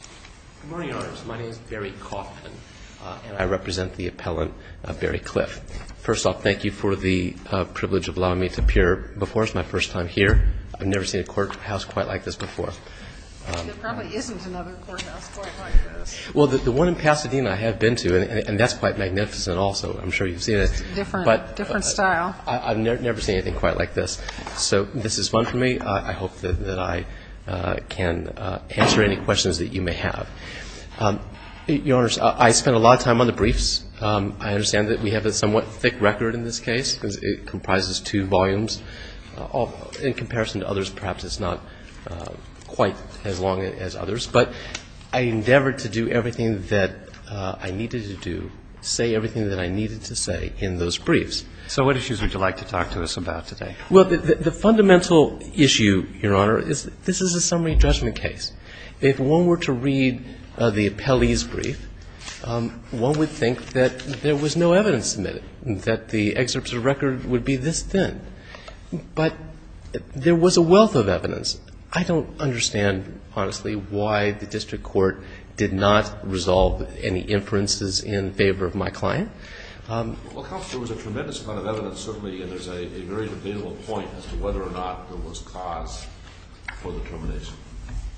Good morning, Your Honors. My name is Barry Coffman, and I represent the appellant, Barry Cliff. First off, thank you for the privilege of allowing me to appear before us my first time here. I've never seen a courthouse quite like this before. There probably isn't another courthouse quite like this. Well, the one in Pasadena I have been to, and that's quite magnificent also. I'm sure you've seen it. It's a different style. I've never seen anything quite like this. So this is fun for me. I hope that I can answer any questions that you may have. Your Honors, I spent a lot of time on the briefs. I understand that we have a somewhat thick record in this case because it comprises two volumes. In comparison to others, perhaps it's not quite as long as others. But I endeavored to do everything that I needed to do, say everything that I needed to say in those briefs. So what issues would you like to talk to us about today? Well, the fundamental issue, Your Honor, is this is a summary judgment case. If one were to read the appellee's brief, one would think that there was no evidence submitted, that the excerpts of the record would be this thin. But there was a wealth of evidence. I don't understand, honestly, why the district court did not resolve any inferences in favor of my client. Well, Counselor, there was a tremendous amount of evidence, certainly, and there's a very debatable point as to whether or not there was cause for the termination.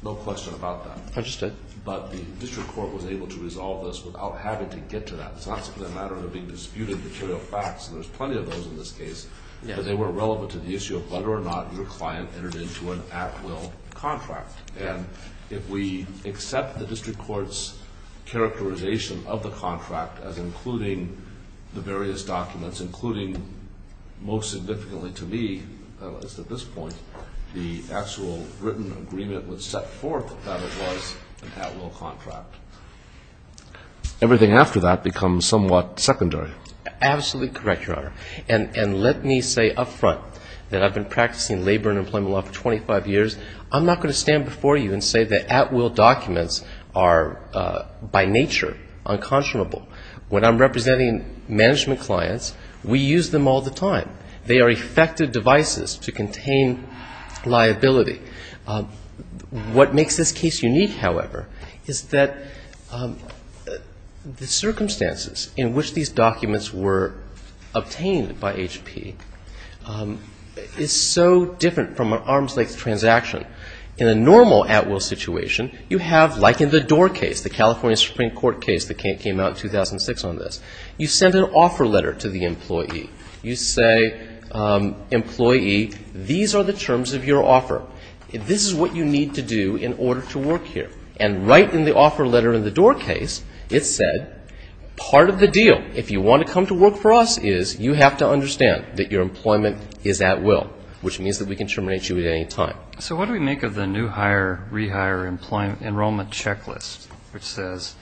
No question about that. Understood. But the district court was able to resolve this without having to get to that. It's not simply a matter of it being disputed material facts. There's plenty of those in this case. But they were irrelevant to the issue of whether or not your client entered into an at-will contract. And if we accept the district court's characterization of the contract as including the various documents, including most significantly to me, at this point, the actual written agreement was set forth that it was an at-will contract. Everything after that becomes somewhat secondary. Absolutely correct, Your Honor. And let me say up front that I've been practicing labor and employment law for 25 years. I'm not going to stand before you and say that at-will documents are, by nature, unconscionable. When I'm representing management clients, we use them all the time. They are effective devices to contain liability. What makes this case unique, however, is that the circumstances in which these documents were obtained by HP is so different from an arm's-length transaction. In a normal at-will situation, you have, like in the Door case, the California Supreme Court case that came out in 2006 on this, you send an offer letter to the employee. You say, employee, these are the terms of your offer. This is what you need to do in order to work here. And right in the offer letter in the Door case, it said part of the deal, if you want to come to work for us is you have to understand that your employment is at-will, which means that we can terminate you at any time. So what do we make of the new hire, rehire enrollment checklist, which says,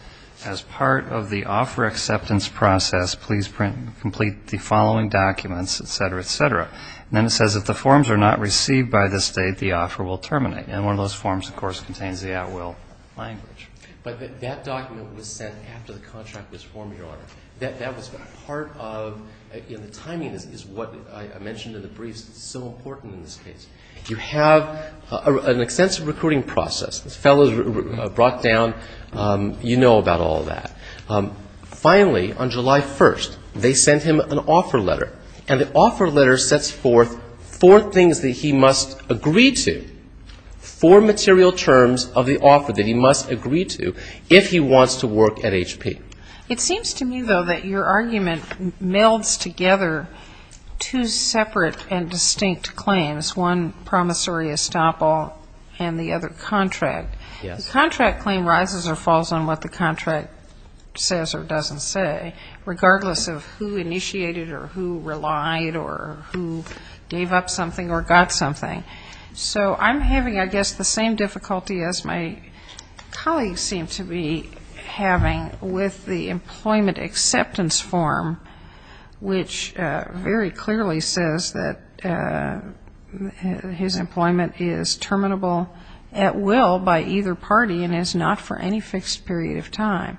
as part of the offer acceptance process, please complete the following documents, et cetera, et cetera. And then it says if the forms are not received by this date, the offer will terminate. And one of those forms, of course, contains the at-will language. But that document was sent after the contract was formed, Your Honor. That was part of the timing is what I mentioned in the briefs. It's so important in this case. You have an extensive recruiting process. The fellows brought down, you know about all that. Finally, on July 1st, they sent him an offer letter. And the offer letter sets forth four things that he must agree to, four material terms of the offer that he must agree to if he wants to work at HP. It seems to me, though, that your argument melds together two separate and distinct claims, one promissory estoppel and the other contract. The contract claim rises or falls on what the contract says or doesn't say, regardless of who initiated or who relied or who gave up something or got something. So I'm having, I guess, the same difficulty as my colleagues seem to be having with the employment acceptance form, which very clearly says that his employment is terminable at will by either party and is not for any fixed period of time.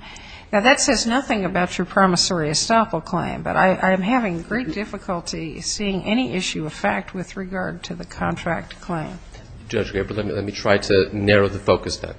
Now, that says nothing about your promissory estoppel claim. But I'm having great difficulty seeing any issue of fact with regard to the contract claim. Judge Gabor, let me try to narrow the focus then.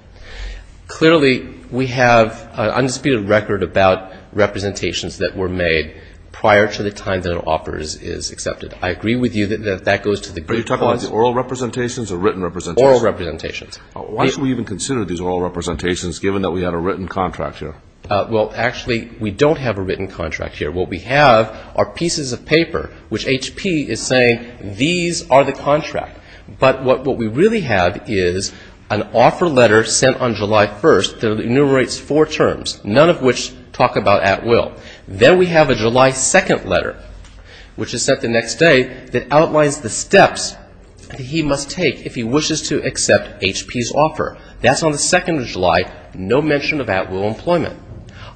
Clearly, we have an undisputed record about representations that were made prior to the time that an offer is accepted. I agree with you that that goes to the group clause. Are you talking about the oral representations or written representations? Oral representations. Why should we even consider these oral representations, given that we have a written contract here? Well, actually, we don't have a written contract here. What we have are pieces of paper, which HP is saying these are the contract. But what we really have is an offer letter sent on July 1st that enumerates four terms, none of which talk about at will. Then we have a July 2nd letter, which is sent the next day, that outlines the steps that he must take if he wishes to accept HP's offer. That's on the 2nd of July, no mention of at will employment.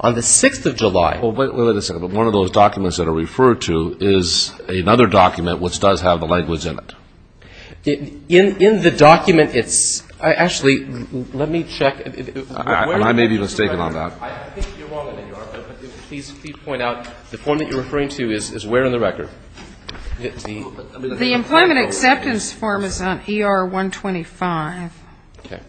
On the 6th of July. Well, wait a second. One of those documents that are referred to is another document which does have the language in it. In the document, it's actually, let me check. I may be mistaken on that. I think you're wrong on that, Your Honor. Please point out the form that you're referring to is where in the record? The employment acceptance form is on ER 125. Okay.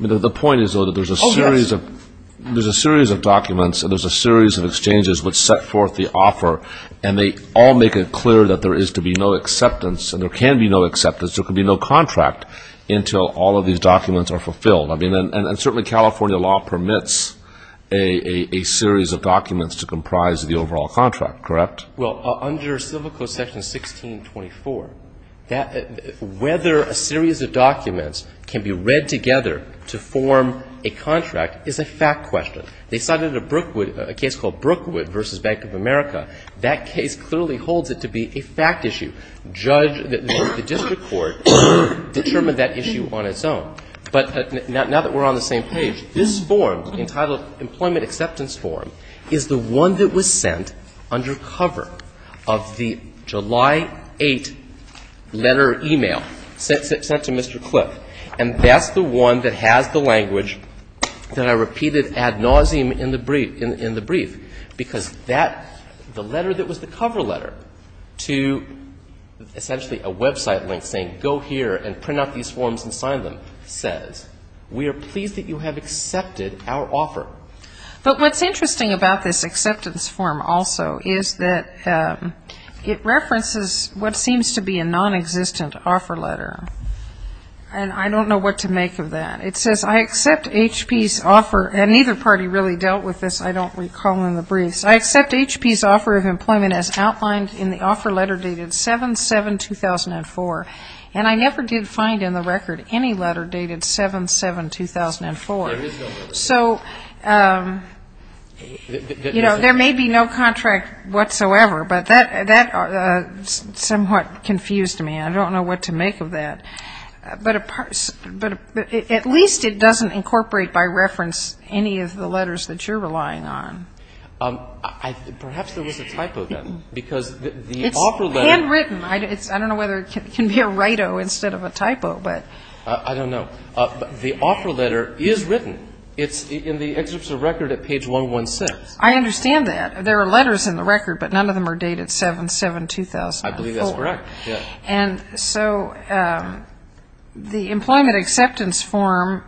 The point is, though, that there's a series of documents and there's a series of exchanges which set forth the offer, and they all make it clear that there is to be no acceptance and there can be no acceptance, there can be no contract until all of these documents are fulfilled. And certainly California law permits a series of documents to comprise the overall contract, correct? Well, under Civil Code Section 1624, whether a series of documents can be read together to form a contract is a fact question. They cited a case called Brookwood v. Bank of America. That case clearly holds it to be a fact issue. The district court determined that issue on its own. But now that we're on the same page, this form entitled Employment Acceptance Form is the one that was sent under cover of the July 8 letter or e-mail sent to Mr. Cliff. And that's the one that has the language that I repeated ad nauseum in the brief, because that, the letter that was the cover letter to essentially a website link saying go here and print out these forms and sign them says, we are pleased that you have accepted our offer. But what's interesting about this acceptance form also is that it references what seems to be a nonexistent offer letter. And I don't know what to make of that. It says, I accept HP's offer, and neither party really dealt with this, I don't recall in the briefs. I accept HP's offer of employment as outlined in the offer letter dated 7-7-2004. And I never did find in the record any letter dated 7-7-2004. So, you know, there may be no contract whatsoever, but that somewhat confused me. I don't know what to make of that. But at least it doesn't incorporate by reference any of the letters that you're relying on. Perhaps there was a typo then. It's handwritten. I don't know whether it can be a write-o instead of a typo. I don't know. The offer letter is written. It's in the excerpts of record at page 116. I understand that. There are letters in the record, but none of them are dated 7-7-2004. I believe that's correct, yes. And so the employment acceptance form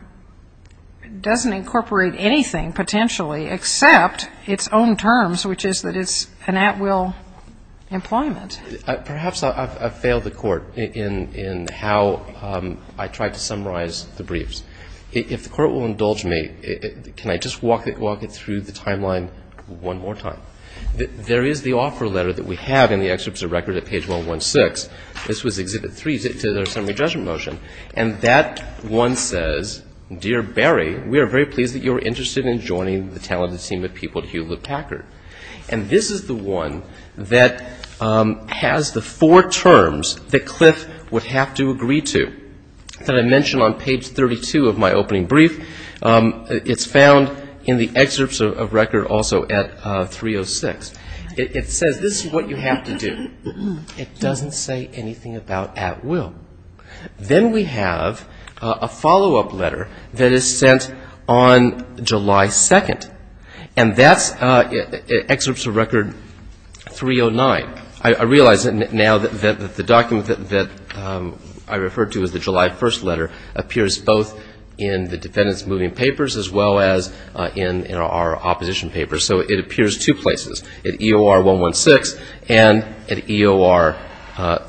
doesn't incorporate anything, potentially, except its own terms, which is that it's an at-will employment. Perhaps I've failed the Court in how I tried to summarize the briefs. If the Court will indulge me, can I just walk it through the timeline one more time? There is the offer letter that we have in the excerpts of record at page 116. This was Exhibit 3 to the summary judgment motion. And that one says, Dear Barry, we are very pleased that you are interested in joining the talented team of people at Hewlett Packard. And this is the one that has the four terms that Cliff would have to agree to, that I mentioned on page 32 of my opening brief. It's found in the excerpts of record also at 306. It says this is what you have to do. It doesn't say anything about at-will. Then we have a follow-up letter that is sent on July 2nd. And that's excerpts of record 309. I realize now that the document that I referred to as the July 1st letter appears both in the defendants' moving papers as well as in our opposition papers. So it appears two places, at EOR 116 and at EOR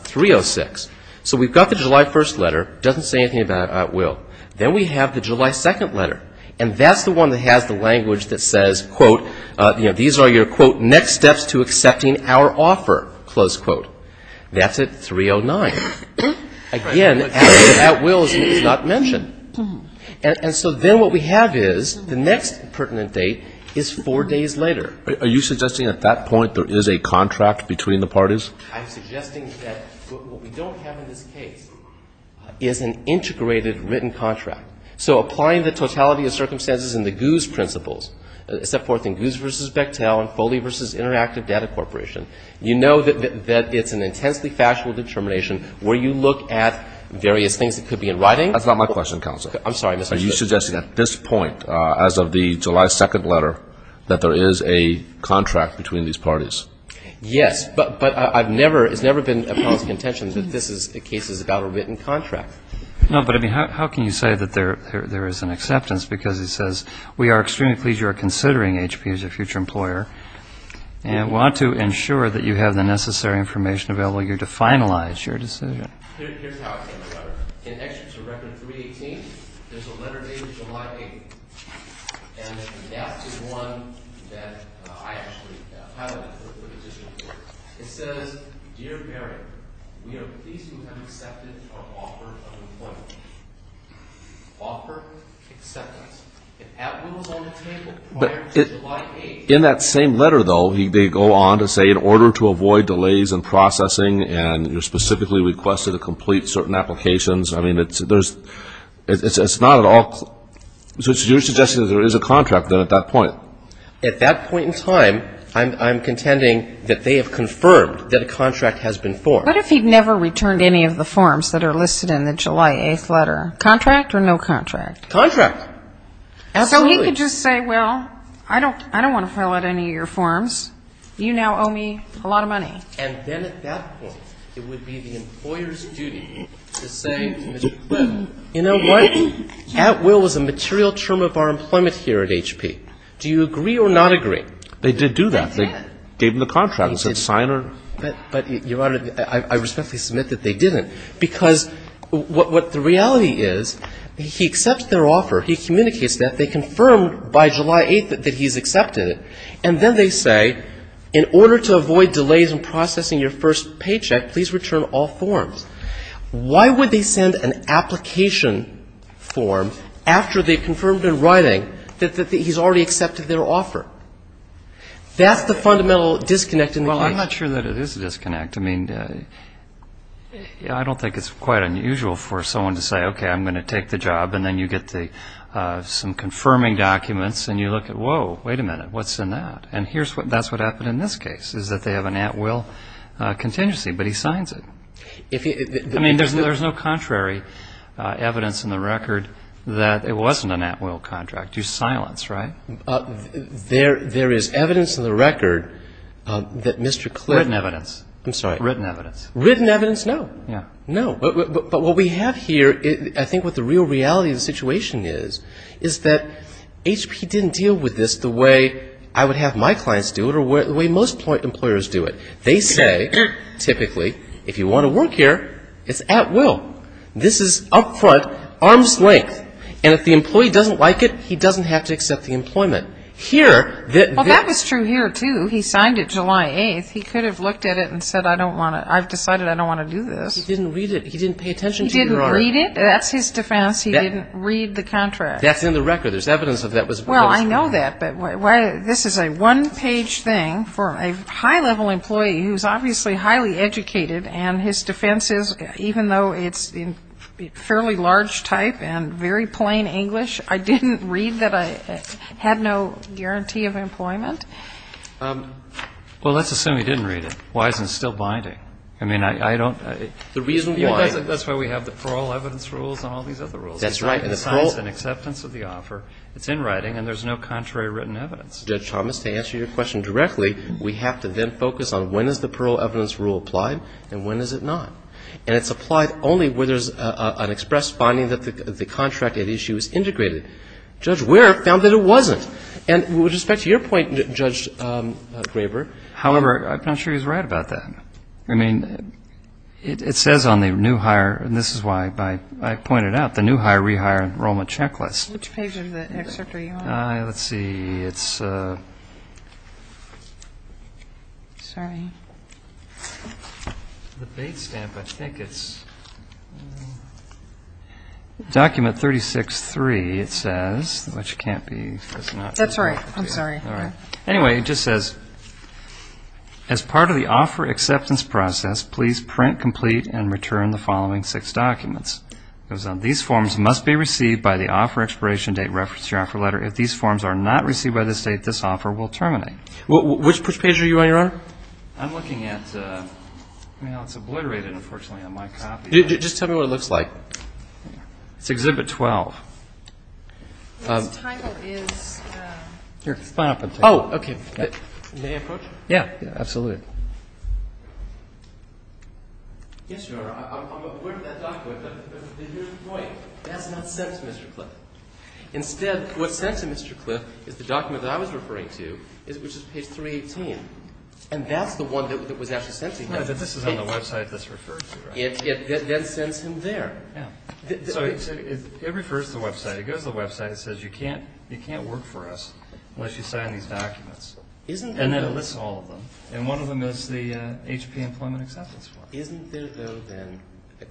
306. So we've got the July 1st letter. It doesn't say anything about at-will. Then we have the July 2nd letter. And that's the one that has the language that says, quote, you know, these are your, quote, next steps to accepting our offer, close quote. That's at 309. Again, at-will is not mentioned. And so then what we have is the next pertinent date is four days later. Are you suggesting at that point there is a contract between the parties? I'm suggesting that what we don't have in this case is an integrated written contract. So applying the totality of circumstances and the GOOS principles, set forth in GOOS v. Bechtel and Foley v. Interactive Data Corporation, you know that it's an intensely factual determination where you look at various things that could be in writing. That's not my question, counsel. I'm sorry, Mr. Chief. Are you suggesting at this point, as of the July 2nd letter, that there is a contract between these parties? Yes. But I've never, it's never been a policy contention that this case is about a written contract. No, but I mean, how can you say that there is an acceptance? Because it says, we are extremely pleased you are considering HP as a future employer and want to ensure that you have the necessary information available to you to finalize your decision. Here's how it's in the letter. It's a record of 318. There's a letter dated July 8th, and that is one that I actually highlighted for the petition report. It says, dear Barry, we are pleased you have accepted our offer of employment. Offer, acceptance. If that was on the table prior to July 8th. In that same letter, though, they go on to say in order to avoid delays in processing and you're specifically requested to complete certain applications. I mean, it's not at all, so it's your suggestion that there is a contract then at that point? At that point in time, I'm contending that they have confirmed that a contract has been formed. What if he'd never returned any of the forms that are listed in the July 8th letter? Contract or no contract? Contract. Absolutely. So he could just say, well, I don't want to fill out any of your forms. You now owe me a lot of money. And then at that point, it would be the employer's duty to say to Mr. Clinton, you know what, at will is a material term of our employment here at HP. Do you agree or not agree? They did do that. They did. They gave him the contract and said sign or... But, Your Honor, I respectfully submit that they didn't. Because what the reality is, he accepts their offer. He communicates that. They confirm by July 8th that he's accepted it. And then they say, in order to avoid delays in processing your first paycheck, please return all forms. Why would they send an application form after they confirmed in writing that he's already accepted their offer? That's the fundamental disconnect in the case. Well, I'm not sure that it is a disconnect. I mean, I don't think it's quite unusual for someone to say, okay, I'm going to take the job, and then you get some confirming documents, and you look at, whoa, wait a minute, what's in that? And that's what happened in this case, is that they have an at-will contingency, but he signs it. I mean, there's no contrary evidence in the record that it wasn't an at-will contract. You silence, right? There is evidence in the record that Mr. Clark... Written evidence. I'm sorry. Written evidence. Written evidence, no. No. But what we have here, I think what the real reality of the situation is, is that HP didn't deal with this the way I would have my clients do it or the way most employers do it. They say, typically, if you want to work here, it's at will. This is up front, arm's length, and if the employee doesn't like it, he doesn't have to accept the employment. Here... Well, that was true here, too. He signed it July 8th. He could have looked at it and said, I don't want to... I've decided I don't want to do this. He didn't read it. He didn't pay attention to your order. He didn't read it. That's his defense. He didn't read the contract. That's in the record. There's evidence that that was... Well, I know that, but this is a one-page thing for a high-level employee who's obviously highly educated, and his defense is, even though it's in fairly large type and very plain English, I didn't read that I had no guarantee of employment. Well, let's assume he didn't read it. Why is it still binding? I mean, I don't... The reason why. That's why we have the parole evidence rules and all these other rules. That's right. And the parole... There's no contrary written evidence. Judge Thomas, to answer your question directly, we have to then focus on when is the parole evidence rule applied and when is it not. And it's applied only where there's an express finding that the contract at issue is integrated. Judge Ware found that it wasn't. And with respect to your point, Judge Graber... However, I'm not sure he's right about that. I mean, it says on the new hire, and this is why I pointed out, the new hire rehire enrollment checklist. Which page of the excerpt are you on? Let's see. It's... Sorry. The bait stamp, I think it's... Document 36-3, it says, which can't be... That's right. I'm sorry. All right. Anyway, it just says, As part of the offer acceptance process, please print, complete, and return the following six documents. It goes on, these forms must be received by the offer expiration date referenced in your offer letter. If these forms are not received by this date, this offer will terminate. Which page are you on, Your Honor? I'm looking at... Well, it's obliterated, unfortunately, on my copy. Just tell me what it looks like. It's Exhibit 12. Its title is... Here, sign up and take a look. Oh, okay. May I approach? Yeah, absolutely. Yes, Your Honor, I'm... Where did that document... Wait. That's not sent to Mr. Cliff. Instead, what's sent to Mr. Cliff is the document that I was referring to, which is page 318. And that's the one that was actually sent to him. No, this is on the website that's referred to. It then sends him there. Yeah. It refers to the website. It goes to the website and says, You can't work for us unless you sign these documents. Isn't... And then it lists all of them. And one of them is the HP Employment Acceptance Form. Isn't there, though, then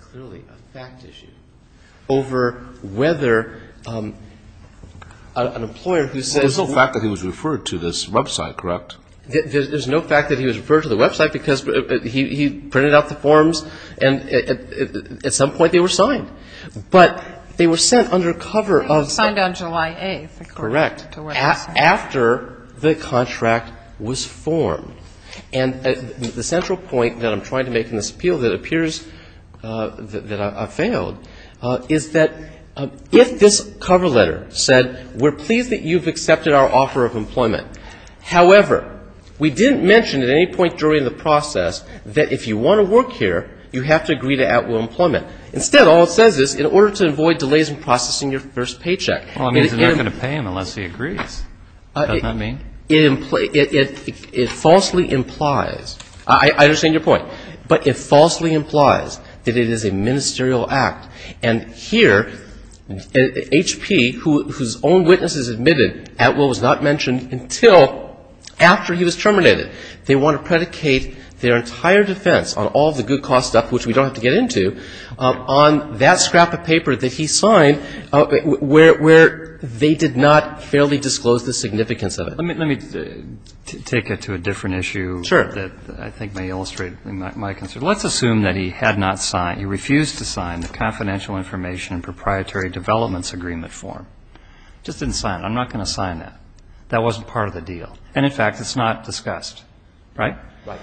clearly a fact issue over whether an employer who says... Well, there's no fact that he was referred to this website, correct? There's no fact that he was referred to the website because he printed out the forms, and at some point they were signed. But they were sent under cover of... They were signed on July 8th, according to what he said. After the contract was formed. And the central point that I'm trying to make in this appeal that appears that I've failed is that if this cover letter said, We're pleased that you've accepted our offer of employment. However, we didn't mention at any point during the process that if you want to work here, you have to agree to at-will employment. Instead, all it says is, in order to avoid delays in processing your first paycheck. Well, it means they're not going to pay him unless he agrees. Does that mean? It falsely implies... I understand your point. But it falsely implies that it is a ministerial act. And here, HP, whose own witness has admitted at-will was not mentioned until after he was terminated. They want to predicate their entire defense on all of the good cause stuff, which we don't have to get into, on that scrap of paper that he signed where they did not fairly disclose the significance of it. Let me take it to a different issue. Sure. That I think may illustrate my concern. Let's assume that he had not signed, he refused to sign the Confidential Information and Proprietary Developments Agreement form. Just didn't sign it. I'm not going to sign that. That wasn't part of the deal. And, in fact, it's not discussed. Right? Right.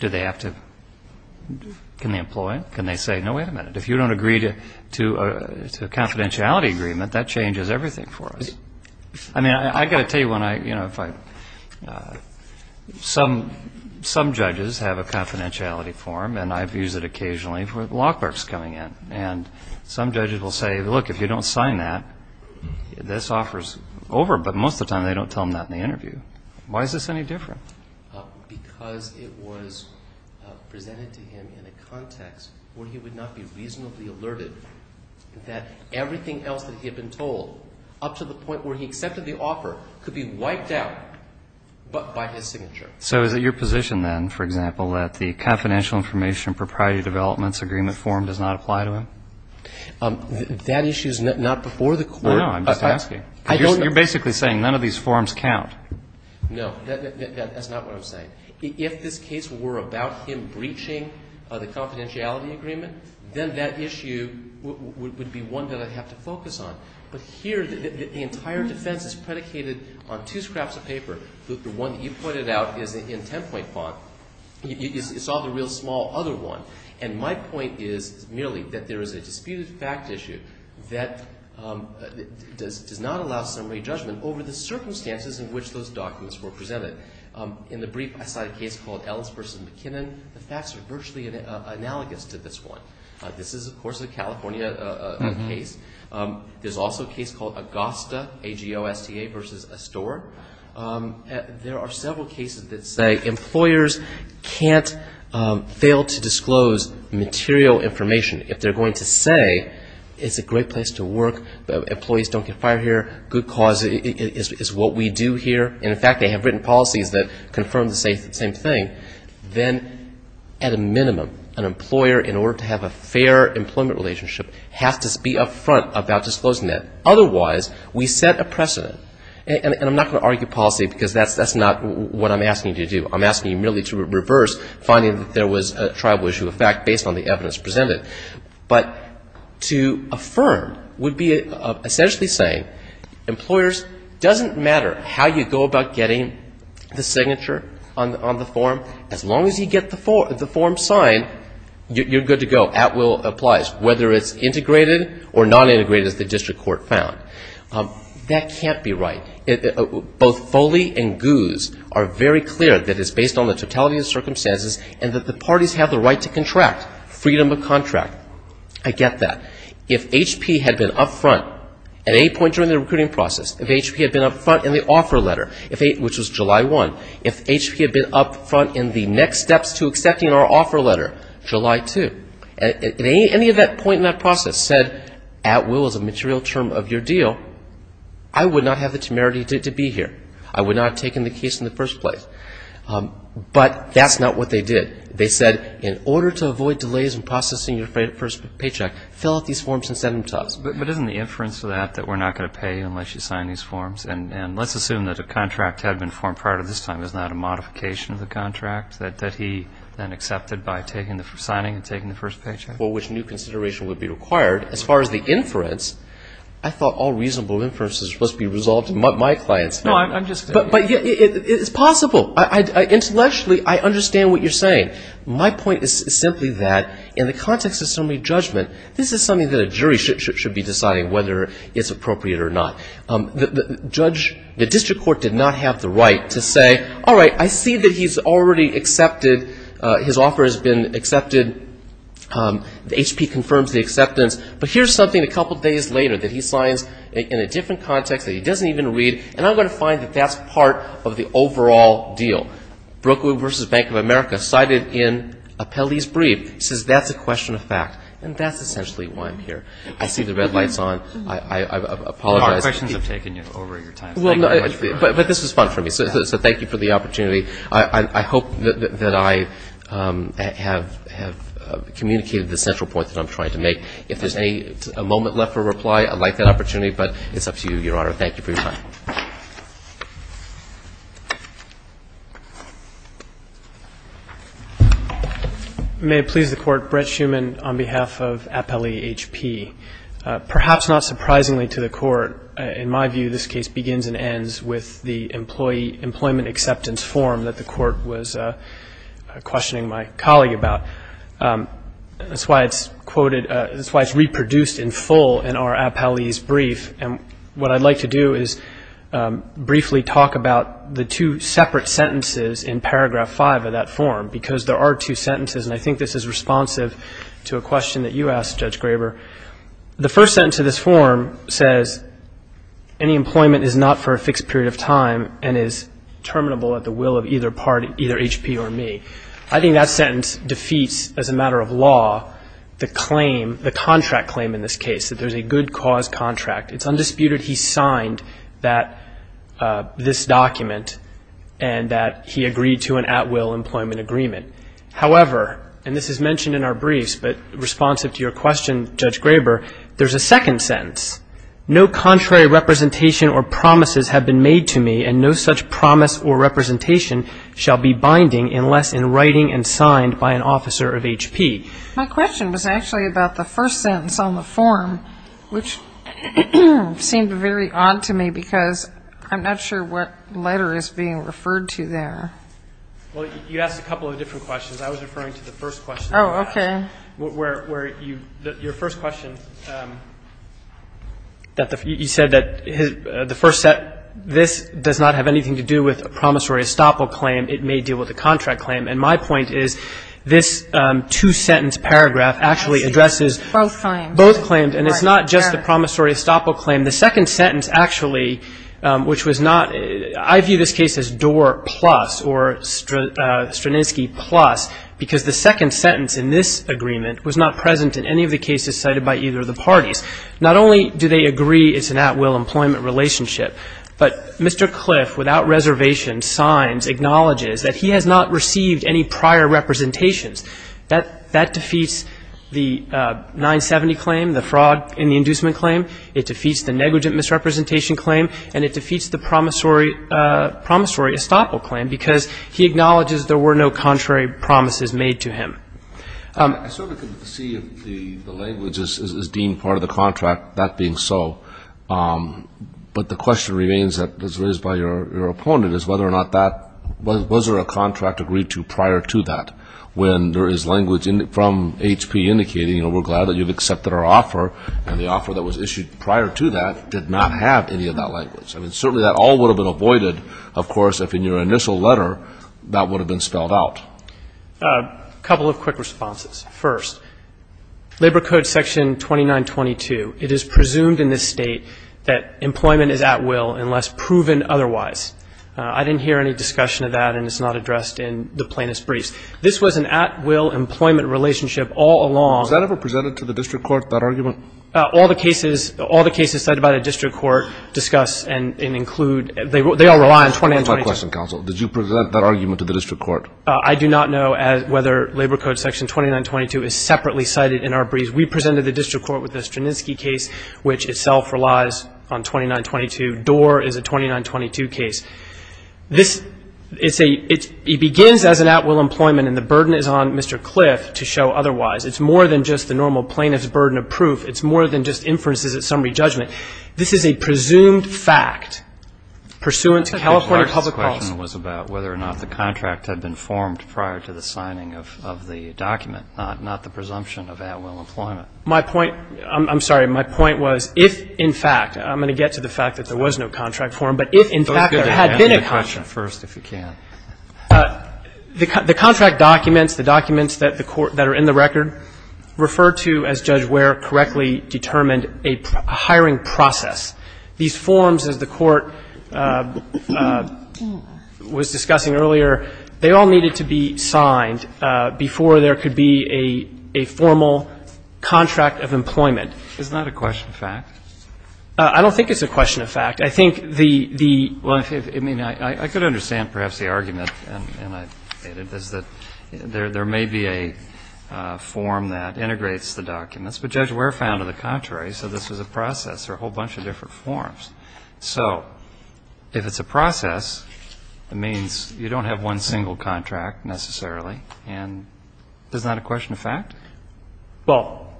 Do they have to? Can they employ it? Can they say, no, wait a minute, if you don't agree to a confidentiality agreement, that changes everything for us. I mean, I've got to tell you, some judges have a confidentiality form, and I've used it occasionally for law clerks coming in. And some judges will say, look, if you don't sign that, this offer's over. But most of the time, they don't tell them that in the interview. Why is this any different? Because it was presented to him in a context where he would not be reasonably alerted that everything else that he had been told, up to the point where he accepted the offer, could be wiped out by his signature. So is it your position, then, for example, that the Confidential Information and Proprietary Developments Agreement form does not apply to him? That issue is not before the court. No, no, I'm just asking. You're basically saying none of these forms count. No, that's not what I'm saying. If this case were about him breaching the confidentiality agreement, then that issue would be one that I'd have to focus on. But here, the entire defense is predicated on two scraps of paper. The one that you pointed out is in 10-point font. It's all the real small other one. And my point is merely that there is a disputed fact issue that does not allow summary judgment over the circumstances in which those documents were presented. In the brief, I cite a case called Ellens v. McKinnon. The facts are virtually analogous to this one. This is, of course, a California case. There's also a case called Agosta, A-G-O-S-T-A v. Astore. There are several cases that say employers can't fail to disclose material information. If they're going to say it's a great place to work, employees don't get fired here, good cause is what we do here, and, in fact, they have written policies that confirm to say the same thing, then at a minimum an employer, in order to have a fair employment relationship, has to be up front about disclosing that. Otherwise, we set a precedent. And I'm not going to argue policy because that's not what I'm asking you to do. I'm asking you merely to reverse finding that there was a tribal issue of fact based on the evidence presented. But to affirm would be essentially saying employers, doesn't matter how you go about getting the signature on the form, as long as you get the form signed, you're good to go, at will applies, whether it's integrated or non-integrated, as the district court found. That can't be right. Both Foley and Guse are very clear that it's based on the totality of circumstances and that the parties have the right to contract, freedom of contract. I get that. If HP had been up front at any point during the recruiting process, if HP had been up front in the offer letter, which was July 1, if HP had been up front in the next steps to accepting our offer letter, July 2, if any of that point in that process said at will is a material term of your deal, I would not have the temerity to be here. I would not have taken the case in the first place. But that's not what they did. They said, in order to avoid delays in processing your first paycheck, fill out these forms and send them to us. But isn't the inference to that that we're not going to pay you unless you sign these forms? And let's assume that a contract had been formed prior to this time. Isn't that a modification of the contract that he then accepted by signing and taking the first paycheck? Well, which new consideration would be required? As far as the inference, I thought all reasonable inference was supposed to be resolved to my clients. No, I'm just saying. But it's possible. Intellectually, I understand what you're saying. My point is simply that in the context of summary judgment, this is something that a jury should be deciding whether it's appropriate or not. The district court did not have the right to say, all right, I see that he's already accepted. His offer has been accepted. HP confirms the acceptance. But here's something a couple days later that he signs in a different context that he doesn't even read, and I'm going to find that that's part of the overall deal. Brookwood v. Bank of America cited in Appellee's Brief says that's a question of fact, and that's essentially why I'm here. I see the red lights on. I apologize. Your questions have taken over your time. But this was fun for me, so thank you for the opportunity. I hope that I have communicated the central point that I'm trying to make. If there's a moment left for reply, I'd like that opportunity. But it's up to you, Your Honor. Thank you for your time. May it please the Court. Brett Schuman on behalf of Appellee HP. Perhaps not surprisingly to the Court, in my view, this case begins and ends with the employee employment acceptance form that the Court was questioning my colleague about. That's why it's quoted, that's why it's reproduced in full in our Appellee's Brief. And what I'd like to do is briefly talk about the two separate sentences in paragraph 5 of that form, because there are two sentences, and I think this is responsive to a question that you asked, Judge Graber. The first sentence of this form says, any employment is not for a fixed period of time and is terminable at the will of either party, either HP or me. I think that sentence defeats, as a matter of law, the claim, the contract claim in this case, that there's a good cause contract. It's undisputed he signed this document and that he agreed to an at-will employment agreement. However, and this is mentioned in our briefs, but responsive to your question, Judge Graber, there's a second sentence. No contrary representation or promises have been made to me, and no such promise or representation shall be binding unless in writing and signed by an officer of HP. My question was actually about the first sentence on the form, which seemed very odd to me because I'm not sure what letter is being referred to there. Well, you asked a couple of different questions. I was referring to the first question. Oh, okay. Where your first question, you said that the first sentence, this does not have anything to do with a promissory estoppel claim. It may deal with a contract claim. And my point is this two-sentence paragraph actually addresses both claims. Both claims. And it's not just the promissory estoppel claim. The second sentence actually, which was not, I view this case as Dorr plus or Stranisky plus because the second sentence in this agreement was not present in any of the cases cited by either of the parties. Not only do they agree it's an at-will employment relationship, but Mr. Cliff, without reservation, signs, acknowledges that he has not received any prior representations. That defeats the 970 claim, the fraud in the inducement claim. It defeats the negligent misrepresentation claim. And it defeats the promissory estoppel claim because he acknowledges there were no contrary promises made to him. I sort of could see the language as deemed part of the contract, that being so. But the question remains, as raised by your opponent, is whether or not that, was there a contract agreed to prior to that when there is language from HP indicating, oh, we're glad that you've accepted our offer. And the offer that was issued prior to that did not have any of that language. I mean, certainly that all would have been avoided, of course, if in your initial letter that would have been spelled out. A couple of quick responses. First, Labor Code Section 2922, it is presumed in this state that employment is at will unless proven otherwise. I didn't hear any discussion of that, and it's not addressed in the plaintiff's briefs. This was an at-will employment relationship all along. Was that ever presented to the district court, that argument? All the cases cited by the district court discuss and include, they all rely on 2922. That's not my question, counsel. Did you present that argument to the district court? I do not know whether Labor Code Section 2922 is separately cited in our briefs. We presented the district court with the Strunitzky case, which itself relies on 2922. Dorr is a 2922 case. This is a, it begins as an at-will employment, and the burden is on Mr. Cliff to show otherwise. It's more than just the normal plaintiff's burden of proof. It's more than just inferences at summary judgment. This is a presumed fact pursuant to California public policy. The question was about whether or not the contract had been formed prior to the signing of the document, not the presumption of at-will employment. My point, I'm sorry. My point was if, in fact, I'm going to get to the fact that there was no contract form, but if, in fact, there had been a contract. Answer the question first, if you can. The contract documents, the documents that the court, that are in the record, refer to, as Judge Ware correctly determined, a hiring process. These forms, as the court was discussing earlier, they all needed to be signed before there could be a formal contract of employment. Is that a question of fact? I don't think it's a question of fact. I think the, the. Well, I mean, I could understand perhaps the argument, and I, is that there may be a form that integrates the documents. But Judge Ware found to the contrary. So this was a process. There are a whole bunch of different forms. So if it's a process, it means you don't have one single contract necessarily. And is that a question of fact? Well,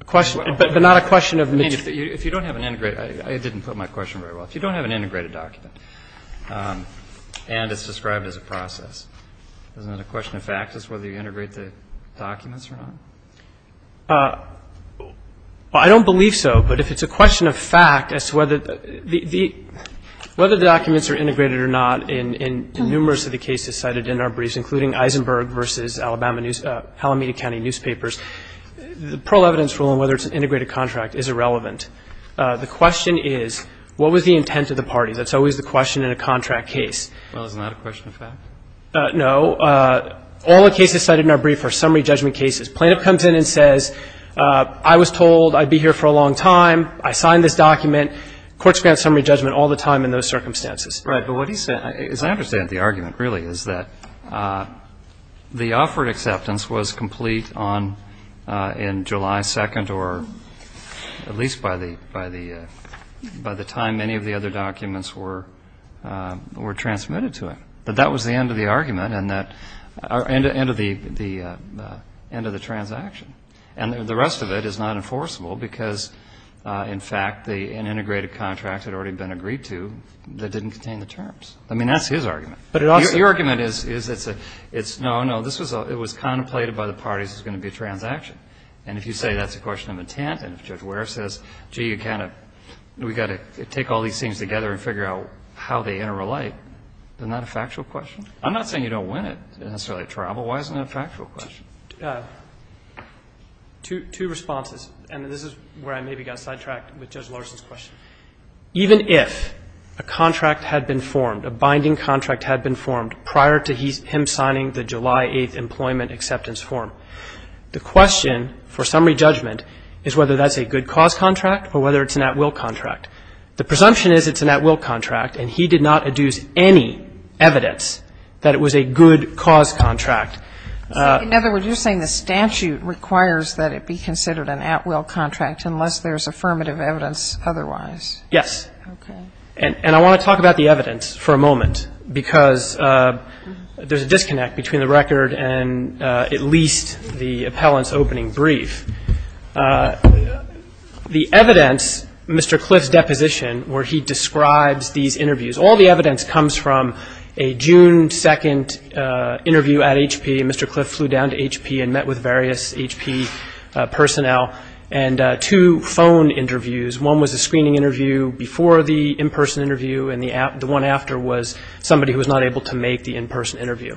a question, but not a question of. I mean, if you don't have an integrated. I didn't put my question very well. If you don't have an integrated document, and it's described as a process, isn't it a question of fact as to whether you integrate the documents or not? Well, I don't believe so. But if it's a question of fact as to whether the, the, whether the documents are integrated or not in, in numerous of the cases cited in our briefs, including Eisenberg versus Alabama news, Alameda County newspapers, the parole evidence rule on whether it's an integrated contract is irrelevant. The question is, what was the intent of the parties? That's always the question in a contract case. Well, isn't that a question of fact? No. All the cases cited in our brief are summary judgment cases. Plaintiff comes in and says, I was told I'd be here for a long time. I signed this document. Courts grant summary judgment all the time in those circumstances. Right. But what he said, as I understand the argument really, is that the offered acceptance was complete on, in July 2nd or at least by the, by the, by the time any of the other documents were, were transmitted to him. But that was the end of the argument and that, and the end of the, the end of the transaction. And the rest of it is not enforceable because, in fact, the integrated contract had already been agreed to that didn't contain the terms. I mean, that's his argument. But it also. Your argument is, is it's a, it's no, no, this was a, it was contemplated by the parties it was going to be a transaction. And if you say that's a question of intent and if Judge Ware says, gee, you kind of, we've got to take all these things together and figure out how they interrelate, isn't that a factual question? I'm not saying you don't win it necessarily at travel. Why isn't that a factual question? Two, two responses. And this is where I maybe got sidetracked with Judge Larson's question. Even if a contract had been formed, a binding contract had been formed prior to his, him signing the July 8th employment acceptance form, the question for summary judgment is whether that's a good cause contract or whether it's an at-will contract. The presumption is it's an at-will contract, and he did not adduce any evidence that it was a good cause contract. So in other words, you're saying the statute requires that it be considered an at-will contract unless there's affirmative evidence otherwise. Yes. Okay. And I want to talk about the evidence for a moment because there's a disconnect between the record and at least the appellant's opening brief. The evidence, Mr. Cliff's deposition, where he describes these interviews, all the evidence comes from a June 2nd interview at HP, and Mr. Cliff flew down to HP and met with various HP personnel, and two phone interviews. One was a screening interview before the in-person interview, and the one after was somebody who was not able to make the in-person interview.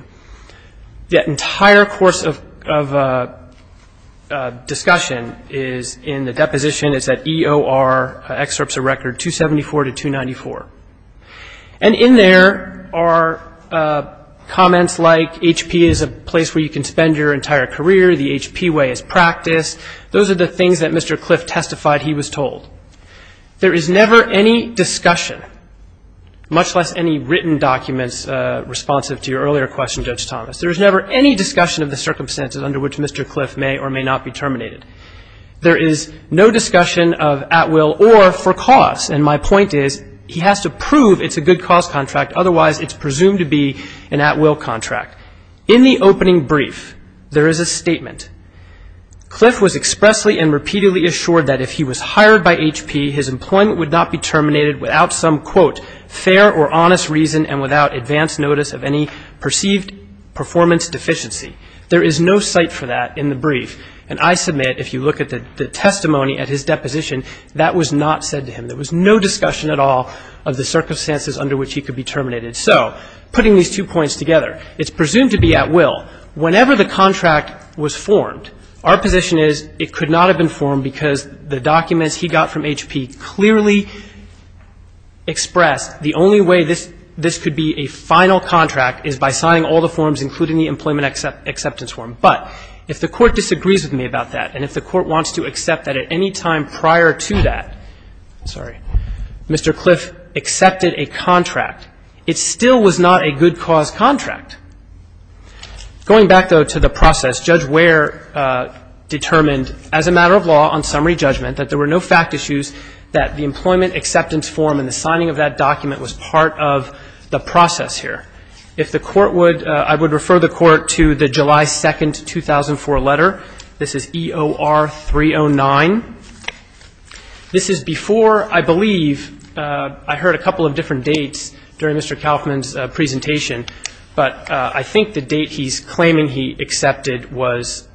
The entire course of discussion is in the deposition. It's at EOR, excerpts of record 274 to 294. And in there are comments like HP is a place where you can spend your entire career. The HP way is practice. Those are the things that Mr. Cliff testified he was told. There is never any discussion, much less any written documents responsive to your earlier question, Judge Thomas. There is never any discussion of the circumstances under which Mr. Cliff may or may not be terminated. There is no discussion of at will or for cause, and my point is he has to prove it's a good cause contract, otherwise it's presumed to be an at will contract. In the opening brief, there is a statement. Cliff was expressly and repeatedly assured that if he was hired by HP, his employment would not be terminated without some, quote, fair or honest reason and without advance notice of any perceived performance deficiency. There is no cite for that in the brief, and I submit if you look at the testimony at his deposition, that was not said to him. There was no discussion at all of the circumstances under which he could be terminated. So putting these two points together, it's presumed to be at will. Whenever the contract was formed, our position is it could not have been formed because the documents he got from HP clearly expressed the only way this could be a final contract is by signing all the forms, including the employment acceptance form. But if the Court disagrees with me about that and if the Court wants to accept that at any time prior to that, sorry, Mr. Cliff accepted a contract, it still was not a good cause contract. Going back, though, to the process, Judge Ware determined as a matter of law on summary judgment that there were no fact issues that the employment acceptance form and the signing of that document was part of the process here. If the Court would, I would refer the Court to the July 2, 2004 letter. This is EOR 309. This is before, I believe, I heard a couple of different dates during Mr. Kauffman's presentation, but I think the date he's claiming he accepted was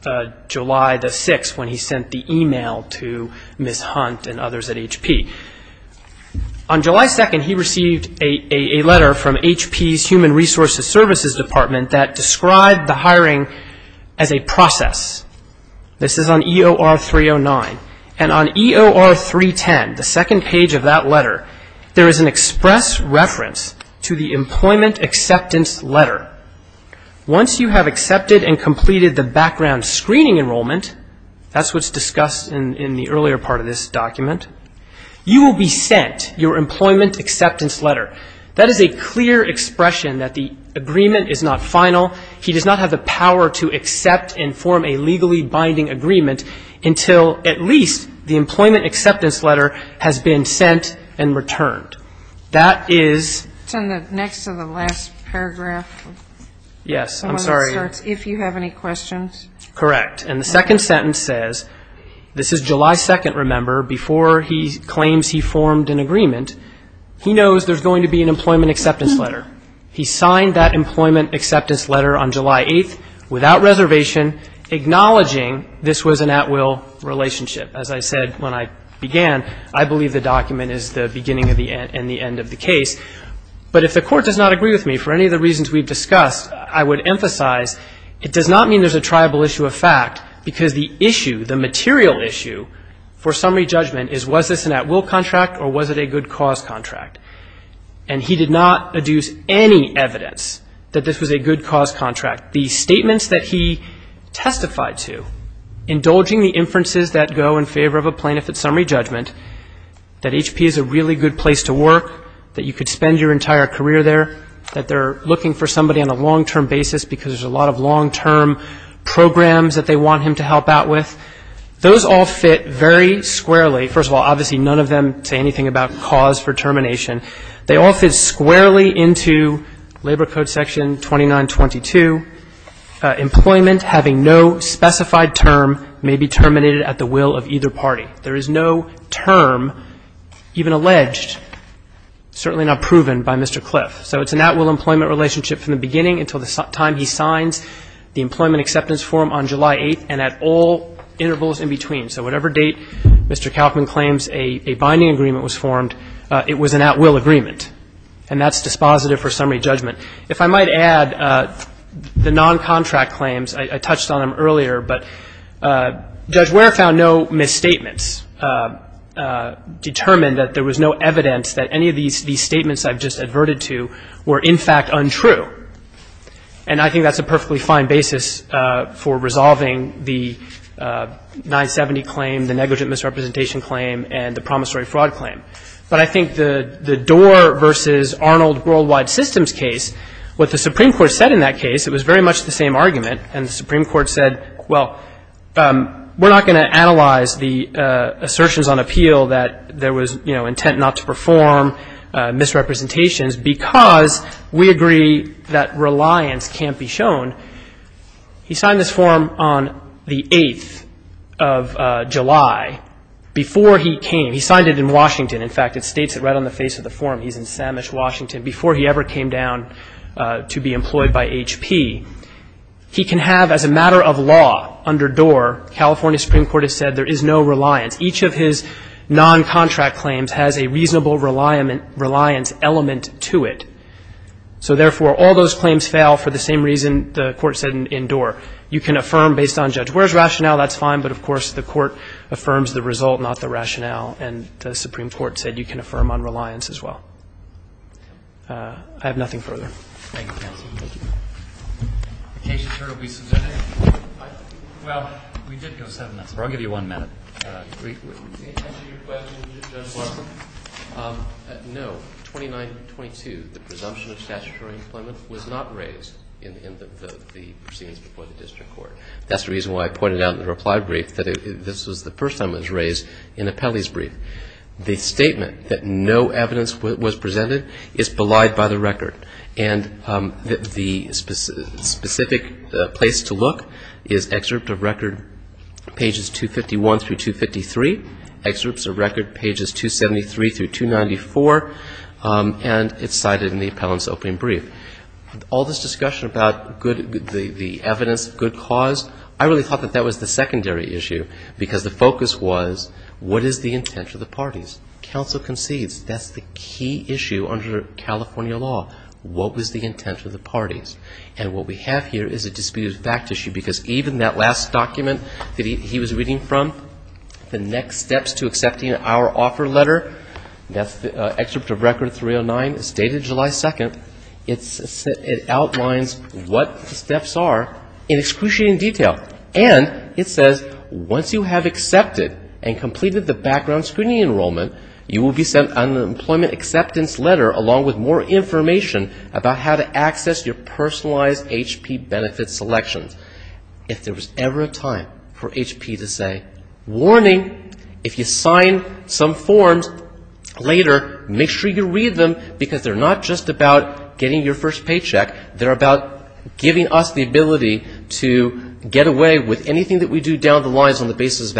July the 6th when he sent the email to Ms. Hunt and others at HP. On July 2nd, he received a letter from HP's Human Resources Services Department that described the hiring as a process. This is on EOR 309. And on EOR 310, the second page of that letter, there is an express reference to the employment acceptance letter. Once you have accepted and completed the background screening enrollment, that's what's discussed in the earlier part of this document, you will be sent your employment acceptance letter. That is a clear expression that the agreement is not final. He does not have the power to accept and form a legally binding agreement until at least the employment acceptance letter has been sent and returned. That is ñ It's next to the last paragraph. Yes. I'm sorry. If you have any questions. Correct. And the second sentence says, this is July 2nd, remember, before he claims he formed an agreement. He knows there's going to be an employment acceptance letter. He signed that employment acceptance letter on July 8th without reservation, acknowledging this was an at-will relationship. As I said when I began, I believe the document is the beginning and the end of the case. But if the Court does not agree with me for any of the reasons we've discussed, I would emphasize it does not mean there's a triable issue of fact because the issue, the material issue for summary judgment is was this an at-will contract or was it a good cause contract? And he did not adduce any evidence that this was a good cause contract. The statements that he testified to, indulging the inferences that go in favor of a plaintiff at summary judgment, that HP is a really good place to work, that you could spend your entire career there, that they're looking for somebody on a long-term basis because there's a lot of long-term programs that they want him to help out with, those all fit very squarely. First of all, obviously, none of them say anything about cause for termination. They all fit squarely into Labor Code section 2922. Employment having no specified term may be terminated at the will of either party. There is no term even alleged, certainly not proven, by Mr. Cliff. So it's an at-will employment relationship from the beginning until the time he signs the employment acceptance form on July 8th and at all intervals in between. So whatever date Mr. Kaufman claims a binding agreement was formed, it was an at-will agreement, and that's dispositive for summary judgment. If I might add, the noncontract claims, I touched on them earlier, but Judge Ware found no misstatements, determined that there was no evidence that any of these statements I've just adverted to were in fact untrue. And I think that's a perfectly fine basis for resolving the 970 claim, the negligent misrepresentation claim, and the promissory fraud claim. But I think the Doar v. Arnold Worldwide Systems case, what the Supreme Court said in that case, it was very much the same argument, and the Supreme Court said, well, we're not going to analyze the assertions on appeal that there was, you know, intent not to perform misrepresentations because we agree that reliance can't be shown. He signed this form on the 8th of July before he came. He signed it in Washington. In fact, it states it right on the face of the form. He's in Samish, Washington, before he ever came down to be employed by HP. He can have, as a matter of law, under Doar, California Supreme Court has said there is no reliance. Each of his noncontract claims has a reasonable reliance element to it. So, therefore, all those claims fail for the same reason the Court said in Doar. You can affirm based on judge. Where's rationale? That's fine. But, of course, the Court affirms the result, not the rationale. And the Supreme Court said you can affirm on reliance as well. I have nothing further. Thank you, counsel. The case is heard. We submitted it. Well, we did go seven minutes. I'll give you one minute. To answer your question, Judge Lawson, no. 2922, the presumption of statutory employment was not raised in the proceedings before the district court. That's the reason why I pointed out in the reply brief that this was the first time it was raised in Apelli's brief. The statement that no evidence was presented is belied by the record. And the specific place to look is excerpt of record pages 251 through 253, excerpts of record pages 273 through 294, and it's cited in the appellant's opening brief. All this discussion about the evidence, good cause, I really thought that that was the secondary issue because the focus was what is the intent of the parties? Counsel concedes that's the key issue under California law. What was the intent of the parties? And what we have here is a disputed fact issue because even that last document that he was reading from, the next steps to accepting our offer letter, that's excerpt of record 309, dated July 2nd, it outlines what the steps are in excruciating detail. And it says once you have accepted and completed the background screening enrollment, you will be sent an employment acceptance letter along with more information about how to access your personalized HP benefit selections. If there was ever a time for HP to say, warning, if you sign some forms later, make sure you read them because they're not just about getting your first paycheck. They're about giving us the ability to get away with anything that we do down the lines on the basis of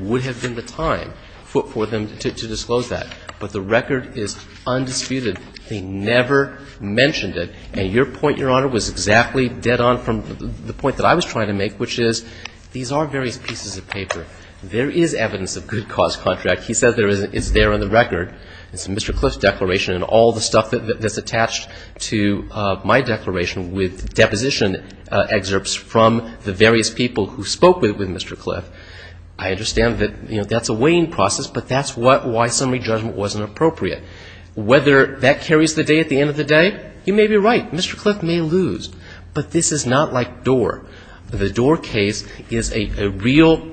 would have been the time for them to disclose that. But the record is undisputed. They never mentioned it. And your point, Your Honor, was exactly dead on from the point that I was trying to make, which is these are various pieces of paper. There is evidence of good cause contract. He says it's there on the record. It's in Mr. Cliff's declaration and all the stuff that's attached to my declaration with deposition excerpts from the various people who spoke with Mr. Cliff. I understand that that's a weighing process, but that's why summary judgment wasn't appropriate. Whether that carries the day at the end of the day, you may be right. Mr. Cliff may lose. But this is not like Doar. The Doar case is a real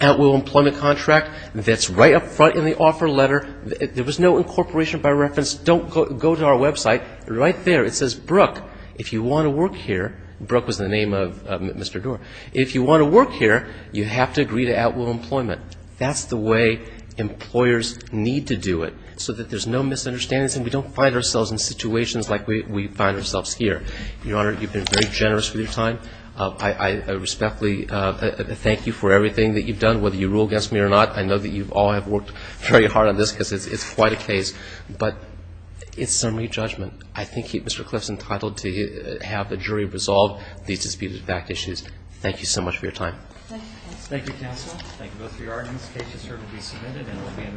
outlaw employment contract that's right up front in the offer letter. There was no incorporation by reference. Don't go to our website. Right there it says, Brooke, if you want to work here, Brooke was the name of Mr. Doar, if you want to work here, you have to agree to outlaw employment. That's the way employers need to do it so that there's no misunderstandings and we don't find ourselves in situations like we find ourselves here. Your Honor, you've been very generous with your time. I respectfully thank you for everything that you've done, whether you rule against me or not. I know that you all have worked very hard on this because it's quite a case. But it's summary judgment. I think Mr. Cliff's entitled to have the jury resolve these disputed fact issues. Thank you so much for your time. Thank you, counsel. Thank you both for your arguments. The case is here to be submitted and will be in recess for the morning.